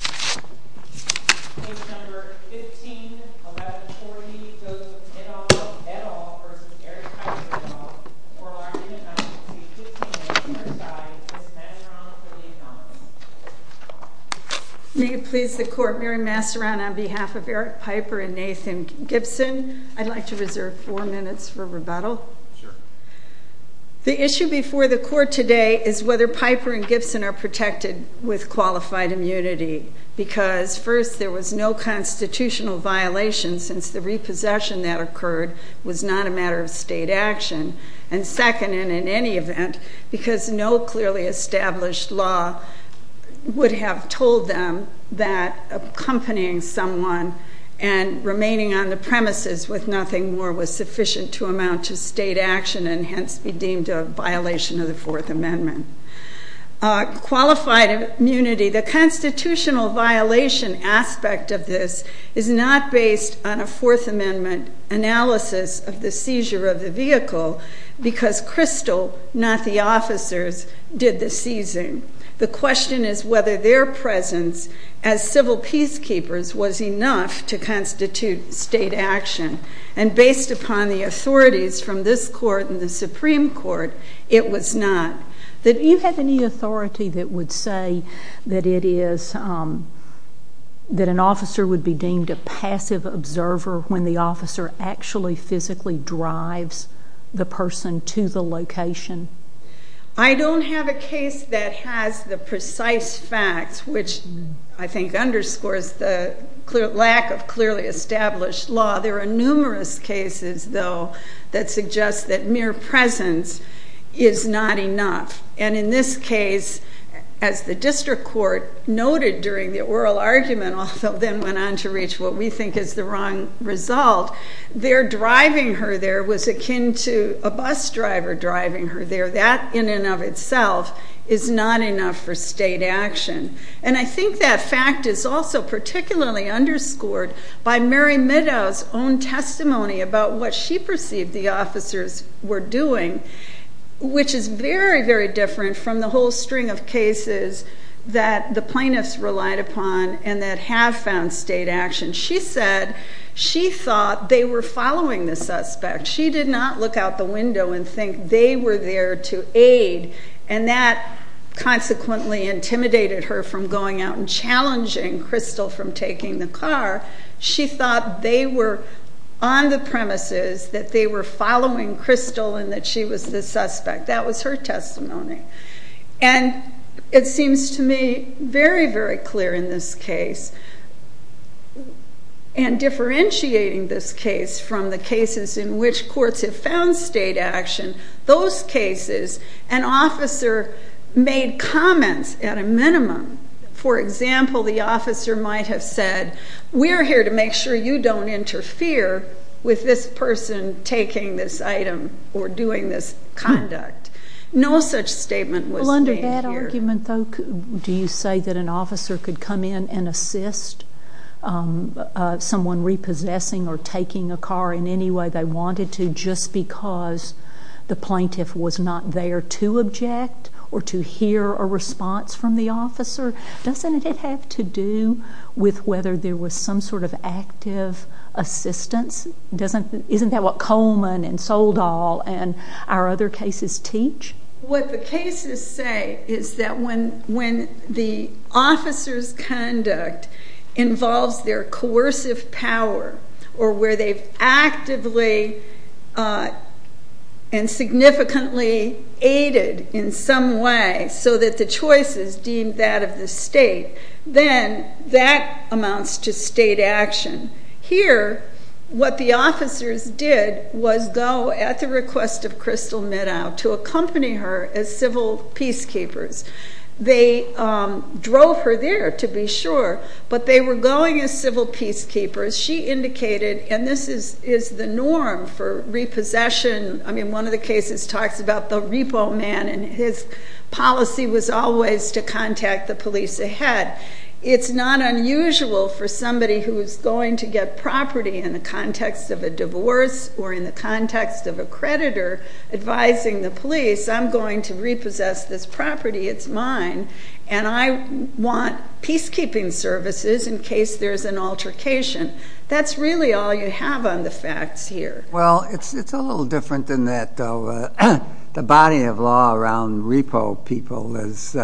v. Eric Piper v. Mary Masserrand May it please the Court, Mary Masserrand, on behalf of Eric Piper and Nathan Gibson, I'd like to reserve four minutes for rebuttal. The issue before the Court today is whether Piper and Gibson are protected with qualified immunity, because first, there was no constitutional violation since the repossession that occurred was not a matter of state action, and second, and in any event, because no clearly established law would have told them that accompanying someone and remaining on the premises with nothing more was sufficient to amount to state action and hence be deemed a violation of the Fourth Amendment. Qualified immunity, the constitutional violation aspect of this, is not based on a Fourth Amendment analysis of the seizure of the vehicle, because Crystal, not the officers, did the seizing. The question is whether their presence as civil peacekeepers was enough to constitute state action, and based upon the authorities from this Court and the Supreme Court, it was not. Do you have any authority that would say that an officer would be deemed a passive observer when the officer actually physically drives the person to the location? I don't have a case that has the precise facts, which I think underscores the lack of clearly established law. There are numerous cases, though, that suggest that mere presence is not enough, and in this case, as the District Court noted during the oral argument, although then went on to reach what we think is the wrong result, their driving her there was akin to a bus driver driving her there. That, in and of itself, is not enough for state action. And I think that fact is also particularly underscored by Mary Meadows' own testimony about what she perceived the officers were doing, which is very, very different from the whole string of cases that the plaintiffs relied upon and that have found state action. She said she thought they were following the suspect. She did not look out the window and think they were there to aid, and that consequently intimidated her from going out and challenging Crystal from taking the car. She thought they were on the premises, that they were following Crystal, and that she was the suspect. That was her testimony. And it seems to me very, very clear in this case, and differentiating this case from the cases in which courts have found state action, those cases an officer made comments at a minimum. For example, the officer might have said, we're here to make sure you don't interfere with this person taking this item or doing this conduct. No such statement was made here. Well, under that argument, though, do you say that an officer could come in and assist someone repossessing or taking a car in any way they wanted to just because the plaintiff was not there to object or to hear a response from the officer? Doesn't it have to do with whether there was some sort of active assistance? Isn't that what Coleman and Soldall and our other cases teach? What the cases say is that when the officer's conduct involves their coercive power or where they've actively and significantly aided in some way so that the choice is deemed that of the state, then that amounts to state action. Here, what the officers did was go at the request of Crystal Meadow to accompany her as civil peacekeepers. They drove her there, to be sure, but they were going as civil peacekeepers. She indicated, and this is the norm for repossession. I mean, one of the cases talks about the repo man, and his policy was always to contact the police ahead. It's not unusual for somebody who's going to get property in the context of a divorce or in the context of a creditor advising the police, I'm going to repossess this property, it's mine, and I want peacekeeping services in case there's an altercation. That's really all you have on the facts here. Well, it's a little different than that, though. The body of law around repo people is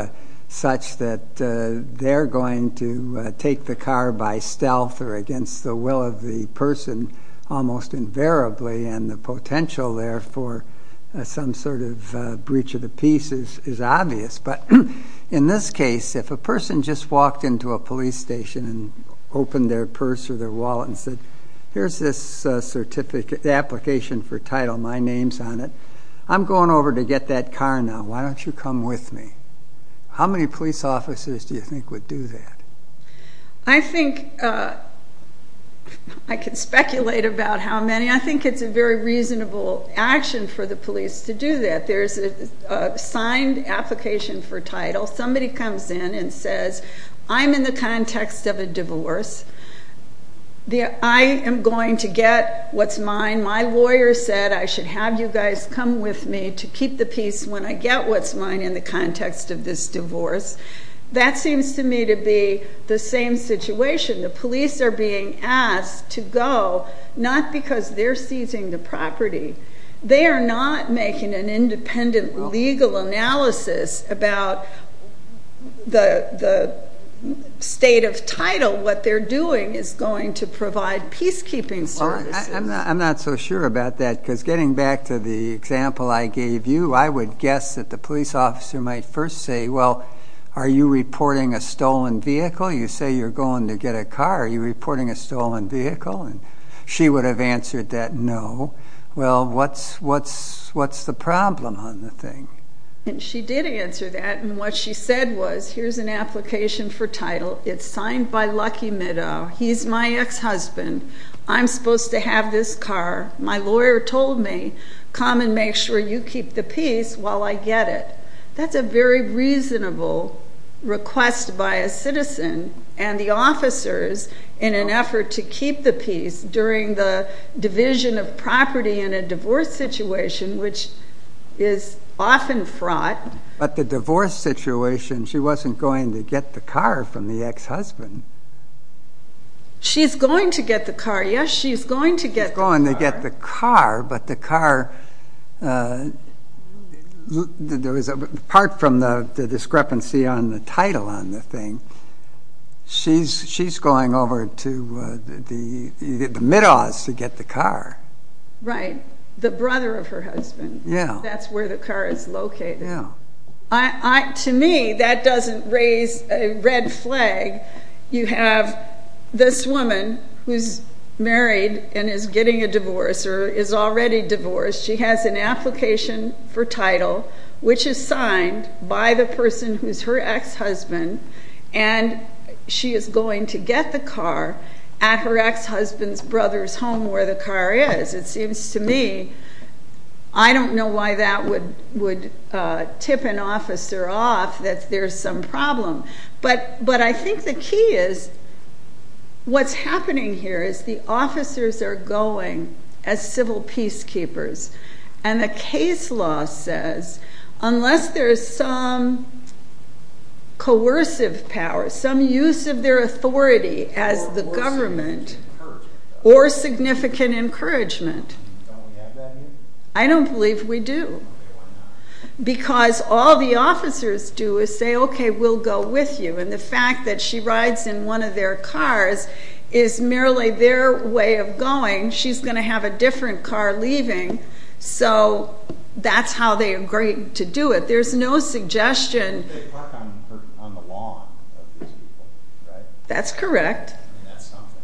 such that they're going to take the car by stealth or against the will of the person almost invariably, and the potential there for some sort of breach of the peace is obvious. But in this case, if a person just walked into a police station and opened their purse or their wallet and said, here's this application for title, my name's on it, I'm going over to get that car now, why don't you come with me? How many police officers do you think would do that? I think I can speculate about how many. I think it's a very reasonable action for the police to do that. There's a signed application for title. Somebody comes in and says, I'm in the context of a divorce. I am going to get what's mine. My lawyer said I should have you guys come with me to keep the peace when I get what's mine in the context of this divorce. That seems to me to be the same situation. The police are being asked to go not because they're seizing the property. They are not making an independent legal analysis about the state of title, what they're doing is going to provide peacekeeping services. I'm not so sure about that because getting back to the example I gave you, I would guess that the police officer might first say, well, are you reporting a stolen vehicle? You say you're going to get a car. Are you reporting a stolen vehicle? She would have answered that no. Well, what's the problem on the thing? She did answer that. What she said was, here's an application for title. It's signed by Lucky Meadow. He's my ex-husband. I'm supposed to have this car. My lawyer told me, come and make sure you keep the peace while I get it. That's a very reasonable request by a citizen and the officers in an effort to keep the peace during the division of property in a divorce situation, which is often fraught. But the divorce situation, she wasn't going to get the car from the ex-husband. She's going to get the car. Yes, she's going to get the car. She's going to get the car, but the car, apart from the discrepancy on the title on the thing, she's going over to the middaws to get the car. Right, the brother of her husband. That's where the car is located. To me, that doesn't raise a red flag. You have this woman who's married and is getting a divorce or is already divorced. She has an application for title, which is signed by the person who's her ex-husband, and she is going to get the car at her ex-husband's brother's home, where the car is. It seems to me I don't know why that would tip an officer off that there's some problem. But I think the key is what's happening here is the officers are going as civil peacekeepers, and the case law says unless there's some coercive power, some use of their authority as the government or significant encouragement. I don't believe we do. Because all the officers do is say, okay, we'll go with you, and the fact that she rides in one of their cars is merely their way of going. She's going to have a different car leaving, so that's how they agree to do it. There's no suggestion. They park on the lawn of these people, right? That's correct. And that's something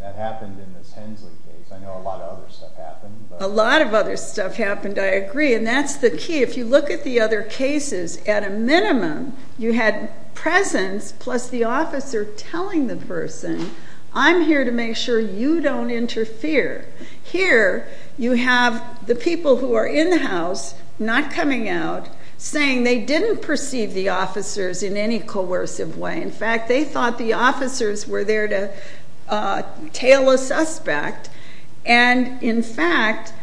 that happened in this Hensley case. I know a lot of other stuff happened. A lot of other stuff happened, I agree, and that's the key. If you look at the other cases, at a minimum, you had presence plus the officer telling the person, I'm here to make sure you don't interfere. Here you have the people who are in the house, not coming out, saying they didn't perceive the officers in any coercive way. In fact, they thought the officers were there to tail a suspect. And, in fact,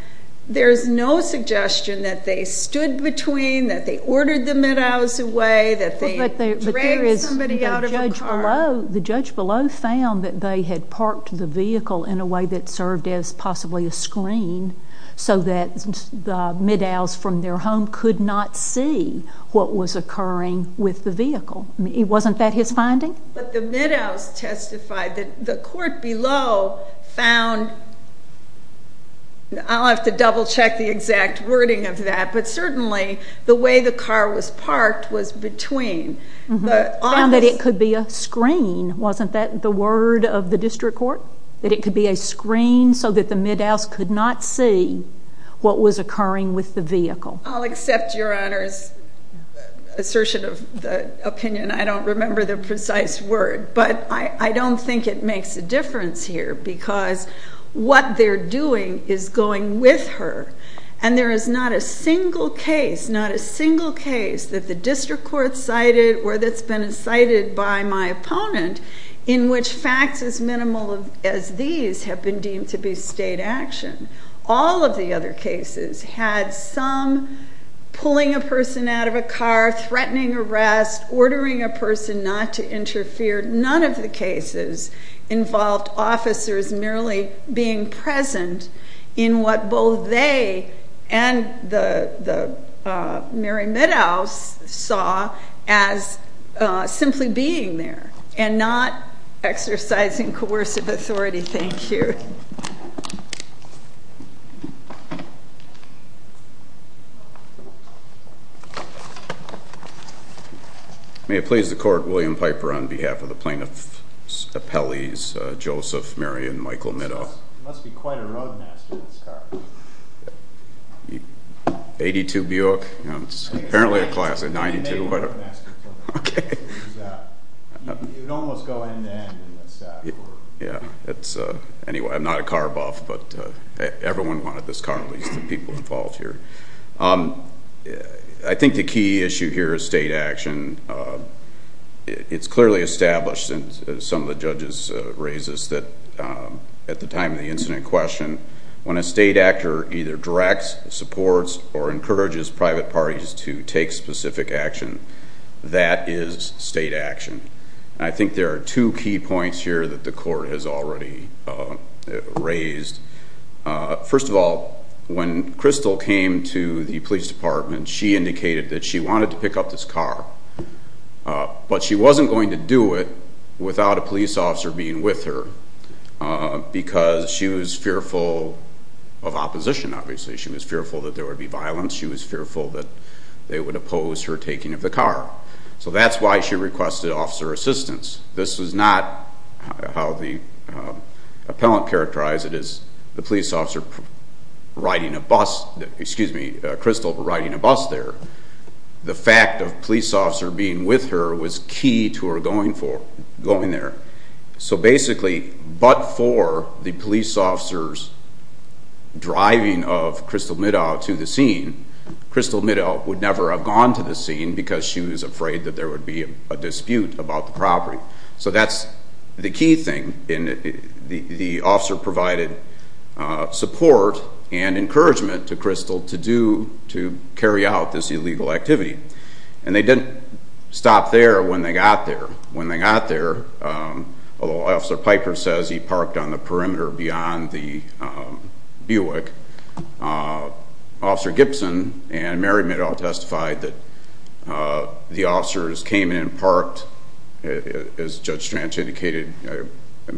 there's no suggestion that they stood between, that they ordered the middows away, that they dragged somebody out of a car. The judge below found that they had parked the vehicle in a way that served as possibly a screen so that the middows from their home could not see what was occurring with the vehicle. Wasn't that his finding? But the middows testified that the court below found, I'll have to double-check the exact wording of that, but certainly the way the car was parked was between. Found that it could be a screen. Wasn't that the word of the district court? That it could be a screen so that the middows could not see what was occurring with the vehicle. I'll accept Your Honor's assertion of the opinion. I don't remember the precise word. But I don't think it makes a difference here because what they're doing is going with her. And there is not a single case, not a single case, that the district court cited or that's been cited by my opponent in which facts as minimal as these have been deemed to be state action. All of the other cases had some pulling a person out of a car, threatening arrest, ordering a person not to interfere. None of the cases involved officers merely being present in what both they and the Mary Middows saw as simply being there. And not exercising coercive authority. Thank you. May it please the court, William Piper on behalf of the plaintiff's appellees, Joseph, Mary, and Michael Middow. It must be quite a road master, this car. 82 Buick? It's apparently a class of 92. Okay. It's not a car buff, but everyone wanted this car, at least the people involved here. I think the key issue here is state action. It's clearly established, and some of the judges raised this, that at the time of the incident question, when a state actor either directs, supports, or encourages private parties to take specific action, that is state action. I think there are two key points here that the court has already raised. First of all, when Crystal came to the police department, she indicated that she wanted to pick up this car, but she wasn't going to do it without a police officer being with her, because she was fearful of opposition, obviously. She was fearful that there would be violence. She was fearful that they would oppose her taking of the car. So that's why she requested officer assistance. This was not how the appellant characterized it, as the police officer riding a bus, excuse me, Crystal riding a bus there. The fact of police officer being with her was key to her going there. So basically, but for the police officer's driving of Crystal Middow to the scene, Crystal Middow would never have gone to the scene, because she was afraid that there would be a dispute about the property. So that's the key thing. The officer provided support and encouragement to Crystal to carry out this illegal activity. And they didn't stop there when they got there. Although Officer Piper says he parked on the perimeter beyond the Buick, Officer Gibson and Mary Middow testified that the officers came in and parked, as Judge Strange indicated,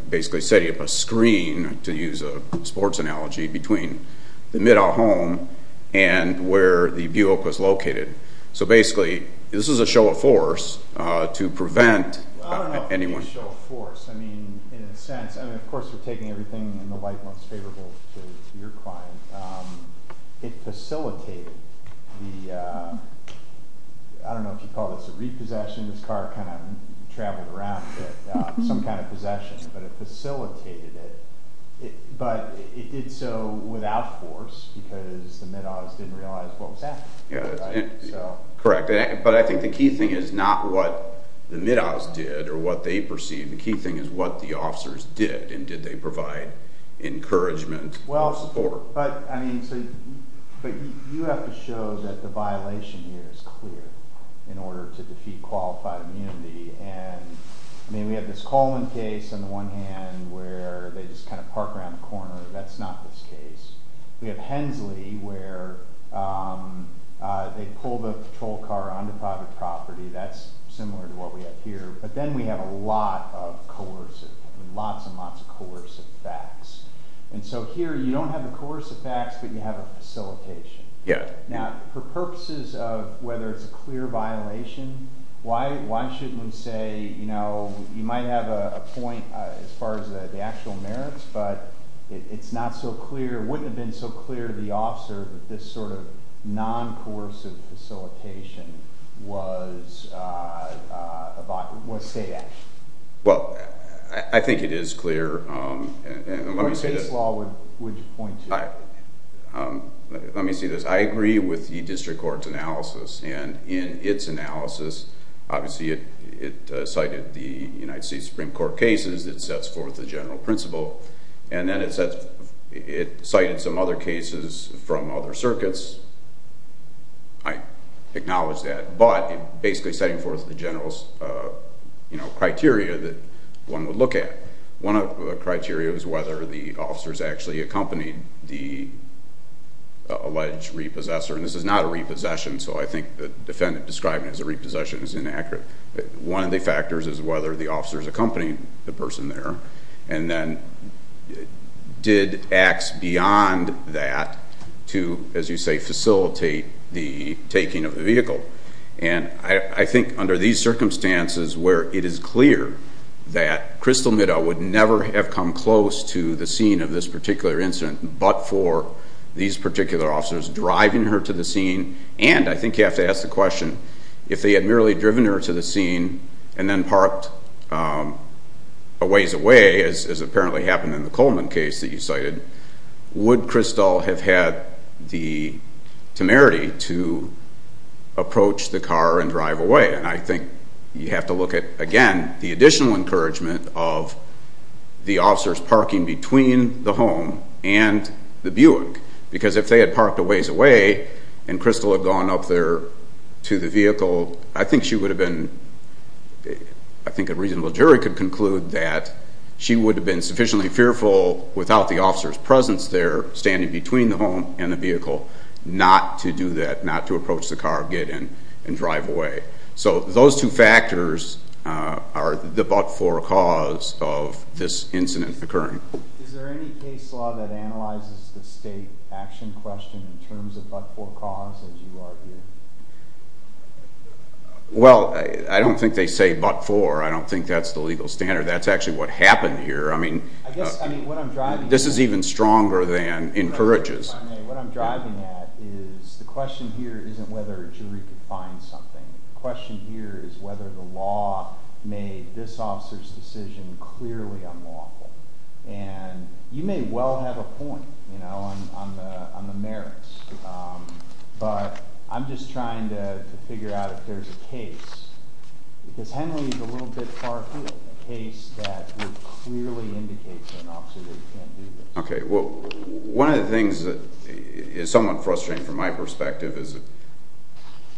basically setting up a screen, to use a sports analogy, between the Middow home and where the Buick was located. So basically, this was a show of force to prevent anyone. Well, I don't know if it was a show of force. I mean, in a sense, I mean, of course, we're taking everything in the light that's favorable to your client. It facilitated the, I don't know if you'd call this a repossession, this car kind of traveled around a bit, some kind of possession. But it facilitated it. But it did so without force, because the Middows didn't realize what was happening. Correct. But I think the key thing is not what the Middows did or what they perceived. The key thing is what the officers did. And did they provide encouragement or support? Well, but you have to show that the violation here is clear in order to defeat qualified immunity. And, I mean, we have this Coleman case on the one hand where they just kind of park around the corner. That's not this case. We have Hensley where they pull the patrol car onto private property. That's similar to what we have here. But then we have a lot of coercive, lots and lots of coercive facts. And so here you don't have the coercive facts, but you have a facilitation. Yeah. Now, for purposes of whether it's a clear violation, why shouldn't we say, you know, you might have a point as far as the actual merits, but it's not so clear. It wouldn't have been so clear to the officer that this sort of non-coercive facilitation was state action. Well, I think it is clear. What case law would you point to? Let me say this. I agree with the district court's analysis. And in its analysis, obviously it cited the United States Supreme Court case that sets forth the general principle. And then it cited some other cases from other circuits. I acknowledge that. But basically setting forth the general, you know, criteria that one would look at. One of the criteria is whether the officers actually accompanied the alleged repossessor. And this is not a repossession, so I think the defendant describing it as a repossession is inaccurate. One of the factors is whether the officers accompanied the person there and then did acts beyond that to, as you say, facilitate the taking of the vehicle. And I think under these circumstances where it is clear that Crystal Middow would never have come close to the scene of this particular incident but for these particular officers driving her to the scene. And I think you have to ask the question, if they had merely driven her to the scene and then parked a ways away, as apparently happened in the Coleman case that you cited, would Crystal have had the temerity to approach the car and drive away? And I think you have to look at, again, the additional encouragement of the officers parking between the home and the Buick. Because if they had parked a ways away and Crystal had gone up there to the vehicle, I think a reasonable jury could conclude that she would have been sufficiently fearful without the officer's presence there standing between the home and the vehicle not to do that, not to approach the car, get in, and drive away. So those two factors are the but-for cause of this incident occurring. Is there any case law that analyzes the state action question in terms of but-for cause as you argue? Well, I don't think they say but-for. I don't think that's the legal standard. That's actually what happened here. This is even stronger than encourages. What I'm driving at is the question here isn't whether a jury could find something. The question here is whether the law made this officer's decision clearly unlawful. And you may well have a point on the merits, but I'm just trying to figure out if there's a case. Because Henley is a little bit far ahead, a case that would clearly indicate to an officer that you can't do this. Okay, well, one of the things that is somewhat frustrating from my perspective is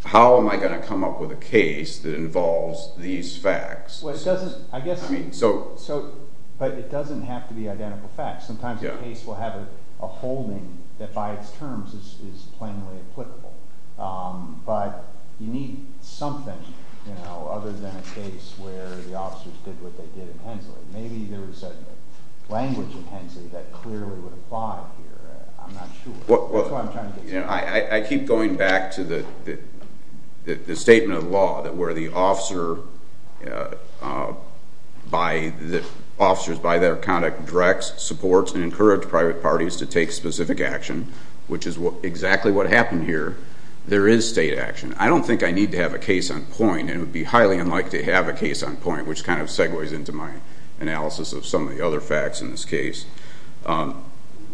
how am I going to come up with a case that involves these facts? But it doesn't have to be identical facts. Sometimes a case will have a holding that by its terms is plainly applicable. But you need something other than a case where the officers did what they did in Henley. Maybe there was a language in Henley that clearly would apply here. I'm not sure. I keep going back to the statement of the law that where the officers by their conduct direct, support, and encourage private parties to take specific action, which is exactly what happened here, there is state action. I don't think I need to have a case on point, and it would be highly unlikely to have a case on point, which kind of segues into my analysis of some of the other facts in this case.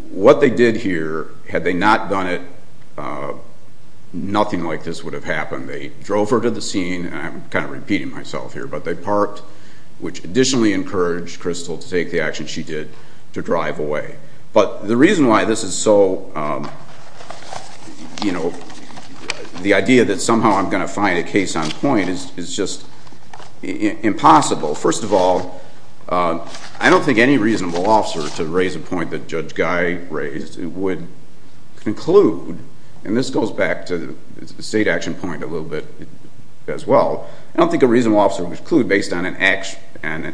What they did here, had they not done it, nothing like this would have happened. They drove her to the scene, and I'm kind of repeating myself here, but they parked, which additionally encouraged Crystal to take the action she did to drive away. But the reason why this is so, you know, the idea that somehow I'm going to find a case on point is just impossible. First of all, I don't think any reasonable officer, to raise a point that Judge Guy raised, would conclude, and this goes back to the state action point a little bit as well, I don't think a reasonable officer would conclude based on an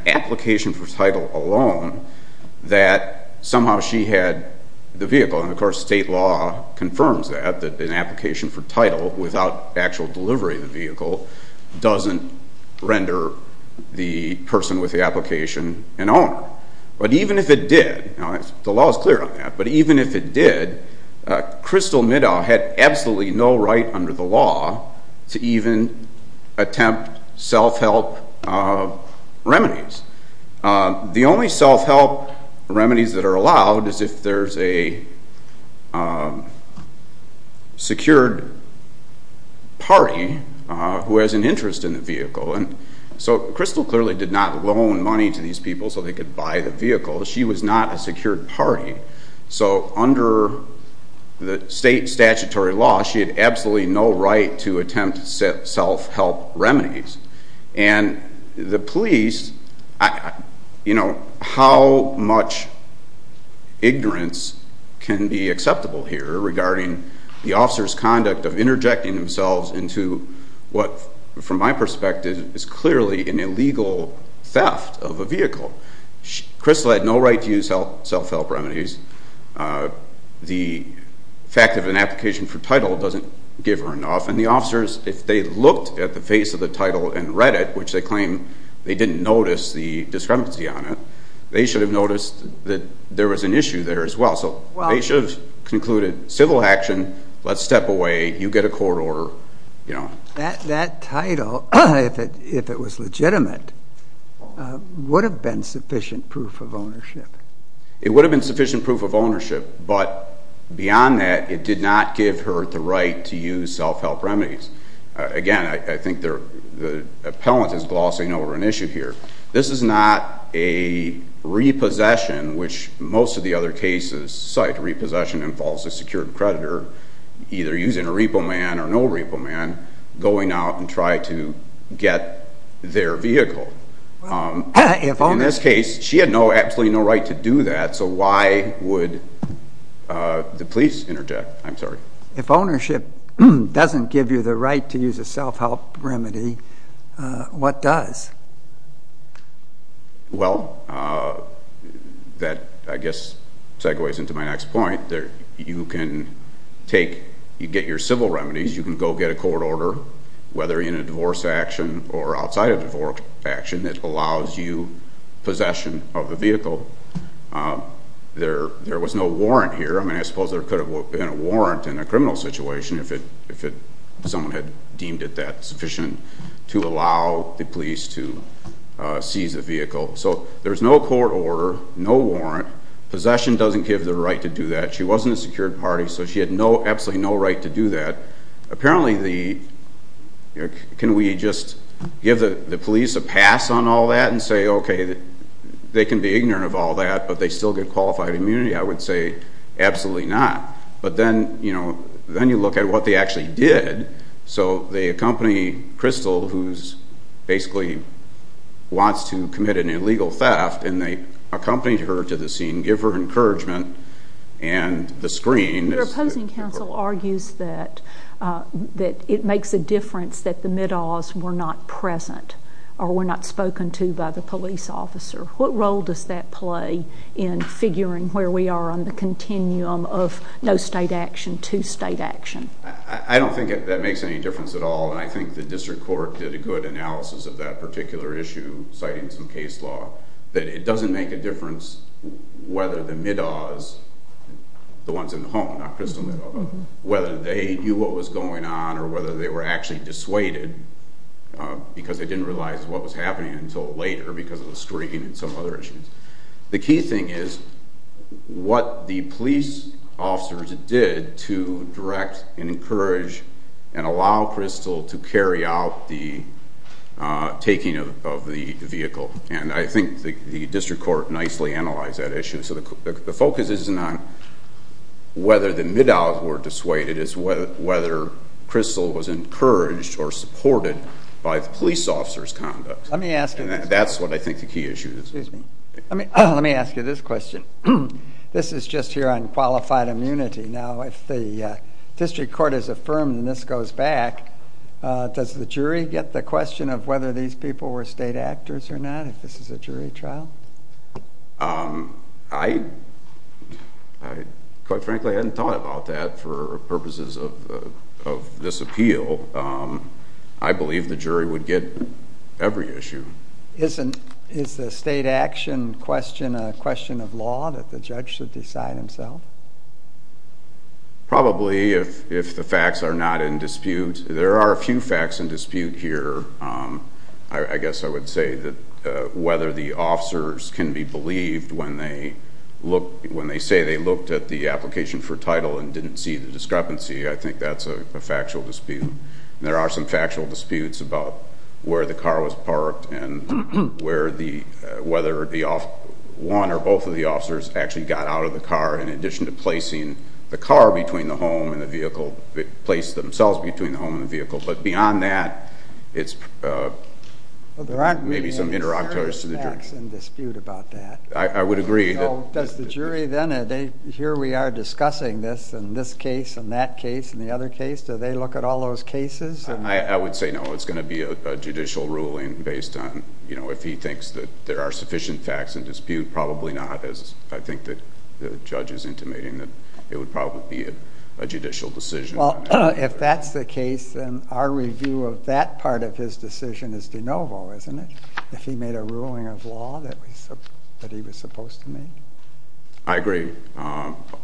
application for title alone that somehow she had the vehicle, and of course state law confirms that, doesn't render the person with the application an owner. But even if it did, the law is clear on that, but even if it did, Crystal Middow had absolutely no right under the law to even attempt self-help remedies. The only self-help remedies that are allowed is if there's a secured party who has an interest in the vehicle. So Crystal clearly did not loan money to these people so they could buy the vehicle. She was not a secured party. So under the state statutory law, she had absolutely no right to attempt self-help remedies. And the police, you know, how much ignorance can be acceptable here regarding the officer's conduct of interjecting themselves into what, from my perspective, is clearly an illegal theft of a vehicle. Crystal had no right to use self-help remedies. The fact of an application for title doesn't give her enough. And the officers, if they looked at the face of the title and read it, which they claim they didn't notice the discrepancy on it, they should have noticed that there was an issue there as well. So they should have concluded civil action, let's step away, you get a court order. That title, if it was legitimate, would have been sufficient proof of ownership. It would have been sufficient proof of ownership, but beyond that it did not give her the right to use self-help remedies. Again, I think the appellant is glossing over an issue here. This is not a repossession, which most of the other cases cite. Repossession involves a secured creditor either using a repo man or no repo man, going out and trying to get their vehicle. In this case, she had absolutely no right to do that, so why would the police interject? If ownership doesn't give you the right to use a self-help remedy, what does? Well, that, I guess, segues into my next point. You can get your civil remedies. You can go get a court order, whether in a divorce action or outside a divorce action, that allows you possession of the vehicle. There was no warrant here. I mean, I suppose there could have been a warrant in a criminal situation if someone had deemed it that sufficient to allow the police to seize the vehicle. So there's no court order, no warrant. Possession doesn't give the right to do that. She wasn't a secured party, so she had absolutely no right to do that. Apparently, can we just give the police a pass on all that and say, okay, they can be ignorant of all that, but they still get qualified immunity? I would say absolutely not. But then, you know, then you look at what they actually did. So they accompany Crystal, who basically wants to commit an illegal theft, and they accompanied her to the scene, give her encouragement, and the screen. Your opposing counsel argues that it makes a difference that the middaws were not present or were not spoken to by the police officer. What role does that play in figuring where we are on the continuum of no state action to state action? I don't think that makes any difference at all, and I think the district court did a good analysis of that particular issue, citing some case law, that it doesn't make a difference whether the middaws, the ones in the home, not Crystal, whether they knew what was going on or whether they were actually dissuaded because they didn't realize what was happening until later because of the screen and some other issues. The key thing is what the police officers did to direct and encourage and allow Crystal to carry out the taking of the vehicle, and I think the district court nicely analyzed that issue. So the focus isn't on whether the middaws were dissuaded, it is whether Crystal was encouraged or supported by the police officer's conduct. That's what I think the key issue is. Let me ask you this question. This is just here on qualified immunity. Now, if the district court has affirmed and this goes back, does the jury get the question of whether these people were state actors or not, if this is a jury trial? Quite frankly, I hadn't thought about that for purposes of this appeal. I believe the jury would get every issue. Is the state action question a question of law that the judge should decide himself? Probably, if the facts are not in dispute. There are a few facts in dispute here. I guess I would say that whether the officers can be believed when they say they looked at the application for title and didn't see the discrepancy, I think that's a factual dispute. There are some factual disputes about where the car was parked and whether one or both of the officers actually got out of the car in addition to placing the car between the home and the vehicle, placed themselves between the home and the vehicle. But beyond that, it's maybe some interlocutors to the jury. There aren't really any certain facts in dispute about that. I would agree. Does the jury then, here we are discussing this, and this case, and that case, and the other case, do they look at all those cases? I would say no. It's going to be a judicial ruling based on if he thinks that there are sufficient facts in dispute, probably not, as I think the judge is intimating that it would probably be a judicial decision. Well, if that's the case, then our review of that part of his decision is de novo, isn't it? If he made a ruling of law that he was supposed to make? I agree,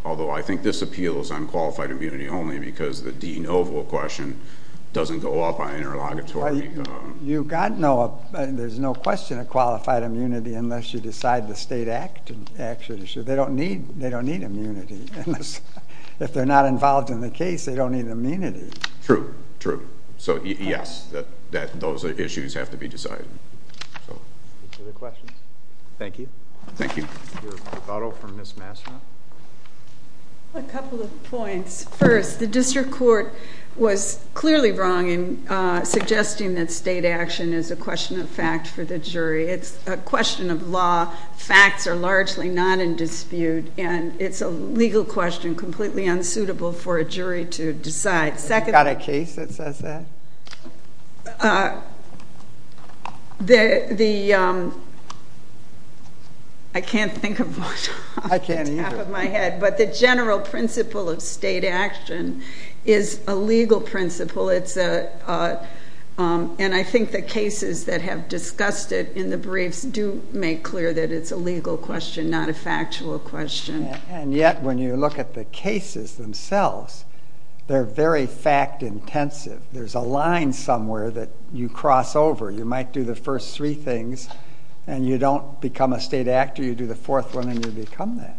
although I think this appeals on qualified immunity only because the de novo question doesn't go up on interlocutory. There's no question of qualified immunity unless you decide the state act should issue. They don't need immunity. If they're not involved in the case, they don't need immunity. True, true. So, yes, those issues have to be decided. Any other questions? Thank you. Thank you. A couple of points. First, the district court was clearly wrong in suggesting that state action is a question of fact for the jury. It's a question of law. Facts are largely not in dispute, and it's a legal question completely unsuitable for a jury to decide. You've got a case that says that? I can't think of one off the top of my head. I can't either. But the general principle of state action is a legal principle, and I think the cases that have discussed it in the briefs do make clear that it's a legal question, not a factual question. And yet, when you look at the cases themselves, they're very fact intensive. There's a line somewhere that you cross over. You might do the first three things, and you don't become a state actor. You do the fourth one, and you become that.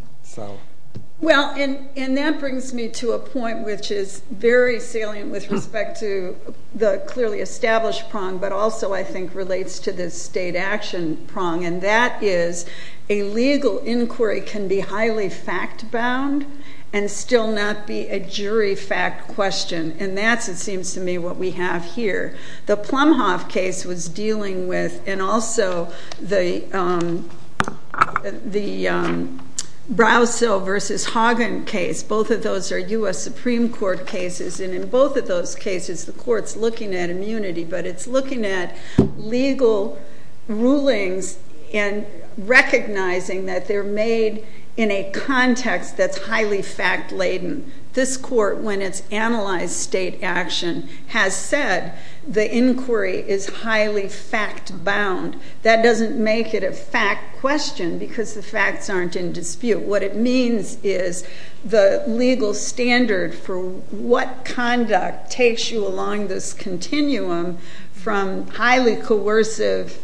Well, and that brings me to a point which is very salient with respect to the clearly established prong, but also I think relates to the state action prong, and that is a legal inquiry can be highly fact bound and still not be a jury fact question, and that's, it seems to me, what we have here. The Plumhoff case was dealing with, and also the Browsell v. Hagen case. Both of those are U.S. Supreme Court cases, and in both of those cases, the court's looking at immunity, but it's looking at legal rulings and recognizing that they're made in a context that's highly fact laden. This court, when it's analyzed state action, has said the inquiry is highly fact bound. That doesn't make it a fact question because the facts aren't in dispute. What it means is the legal standard for what conduct takes you along this continuum from highly coercive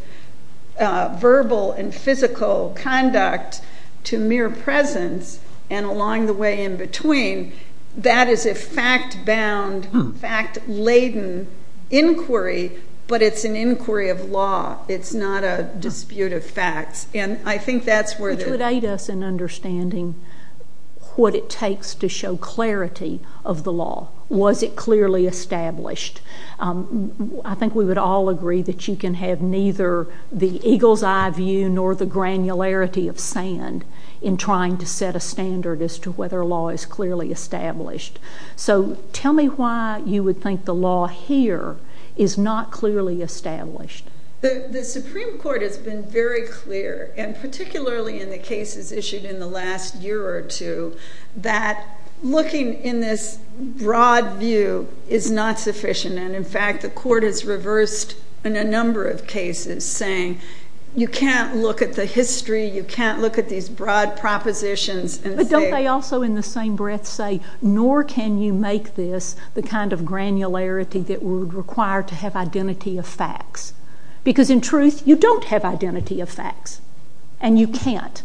verbal and physical conduct to mere presence and along the way in between. That is a fact bound, fact laden inquiry, but it's an inquiry of law. It's not a dispute of facts, and I think that's where the- Which would aid us in understanding what it takes to show clarity of the law. Was it clearly established? I think we would all agree that you can have neither the eagle's eye view nor the granularity of sand in trying to set a standard as to whether a law is clearly established. Tell me why you would think the law here is not clearly established. The Supreme Court has been very clear, and particularly in the cases issued in the last year or two, that looking in this broad view is not sufficient, and in fact the court has reversed in a number of cases saying you can't look at the history, you can't look at these broad propositions and say- But don't they also in the same breath say, nor can you make this the kind of granularity that we would require to have identity of facts? Because in truth, you don't have identity of facts, and you can't.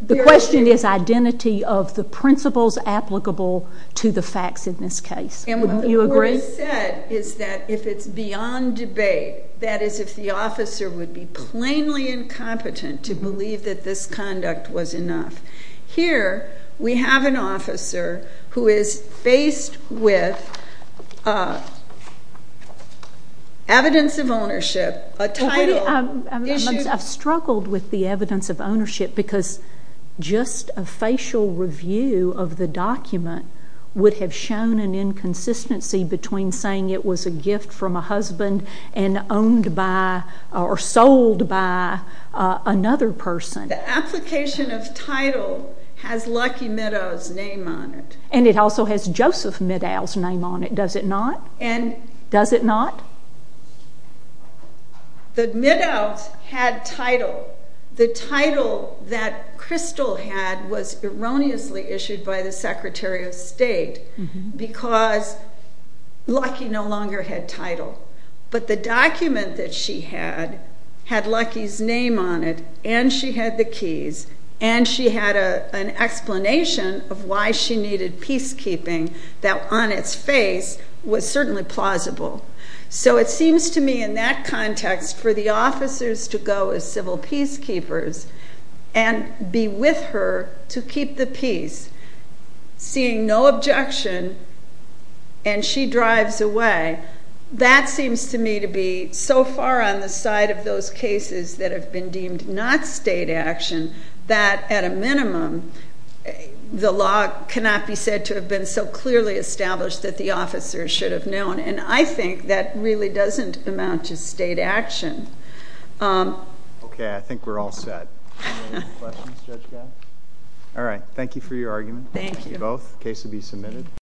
The question is identity of the principles applicable to the facts in this case. You agree? What he said is that if it's beyond debate, that is if the officer would be plainly incompetent to believe that this conduct was enough. Here we have an officer who is faced with evidence of ownership, a title- I've struggled with the evidence of ownership, because just a facial review of the document would have shown an inconsistency between saying it was a gift from a husband and owned by or sold by another person. The application of title has Lucky Middow's name on it. And it also has Joseph Middow's name on it, does it not? Does it not? The Middows had title. The title that Crystal had was erroneously issued by the Secretary of State, because Lucky no longer had title. But the document that she had had Lucky's name on it, and she had the keys, and she had an explanation of why she needed peacekeeping that on its face was certainly plausible. So it seems to me in that context for the officers to go as civil peacekeepers and be with her to keep the peace, seeing no objection, and she drives away, that seems to me to be so far on the side of those cases that have been deemed not state action, that at a minimum the law cannot be said to have been so clearly established that the officers should have known. And I think that really doesn't amount to state action. Okay. I think we're all set. Any other questions, Judge Geis? All right. Thank you for your argument. Thank you. Thank you both. The case will be submitted.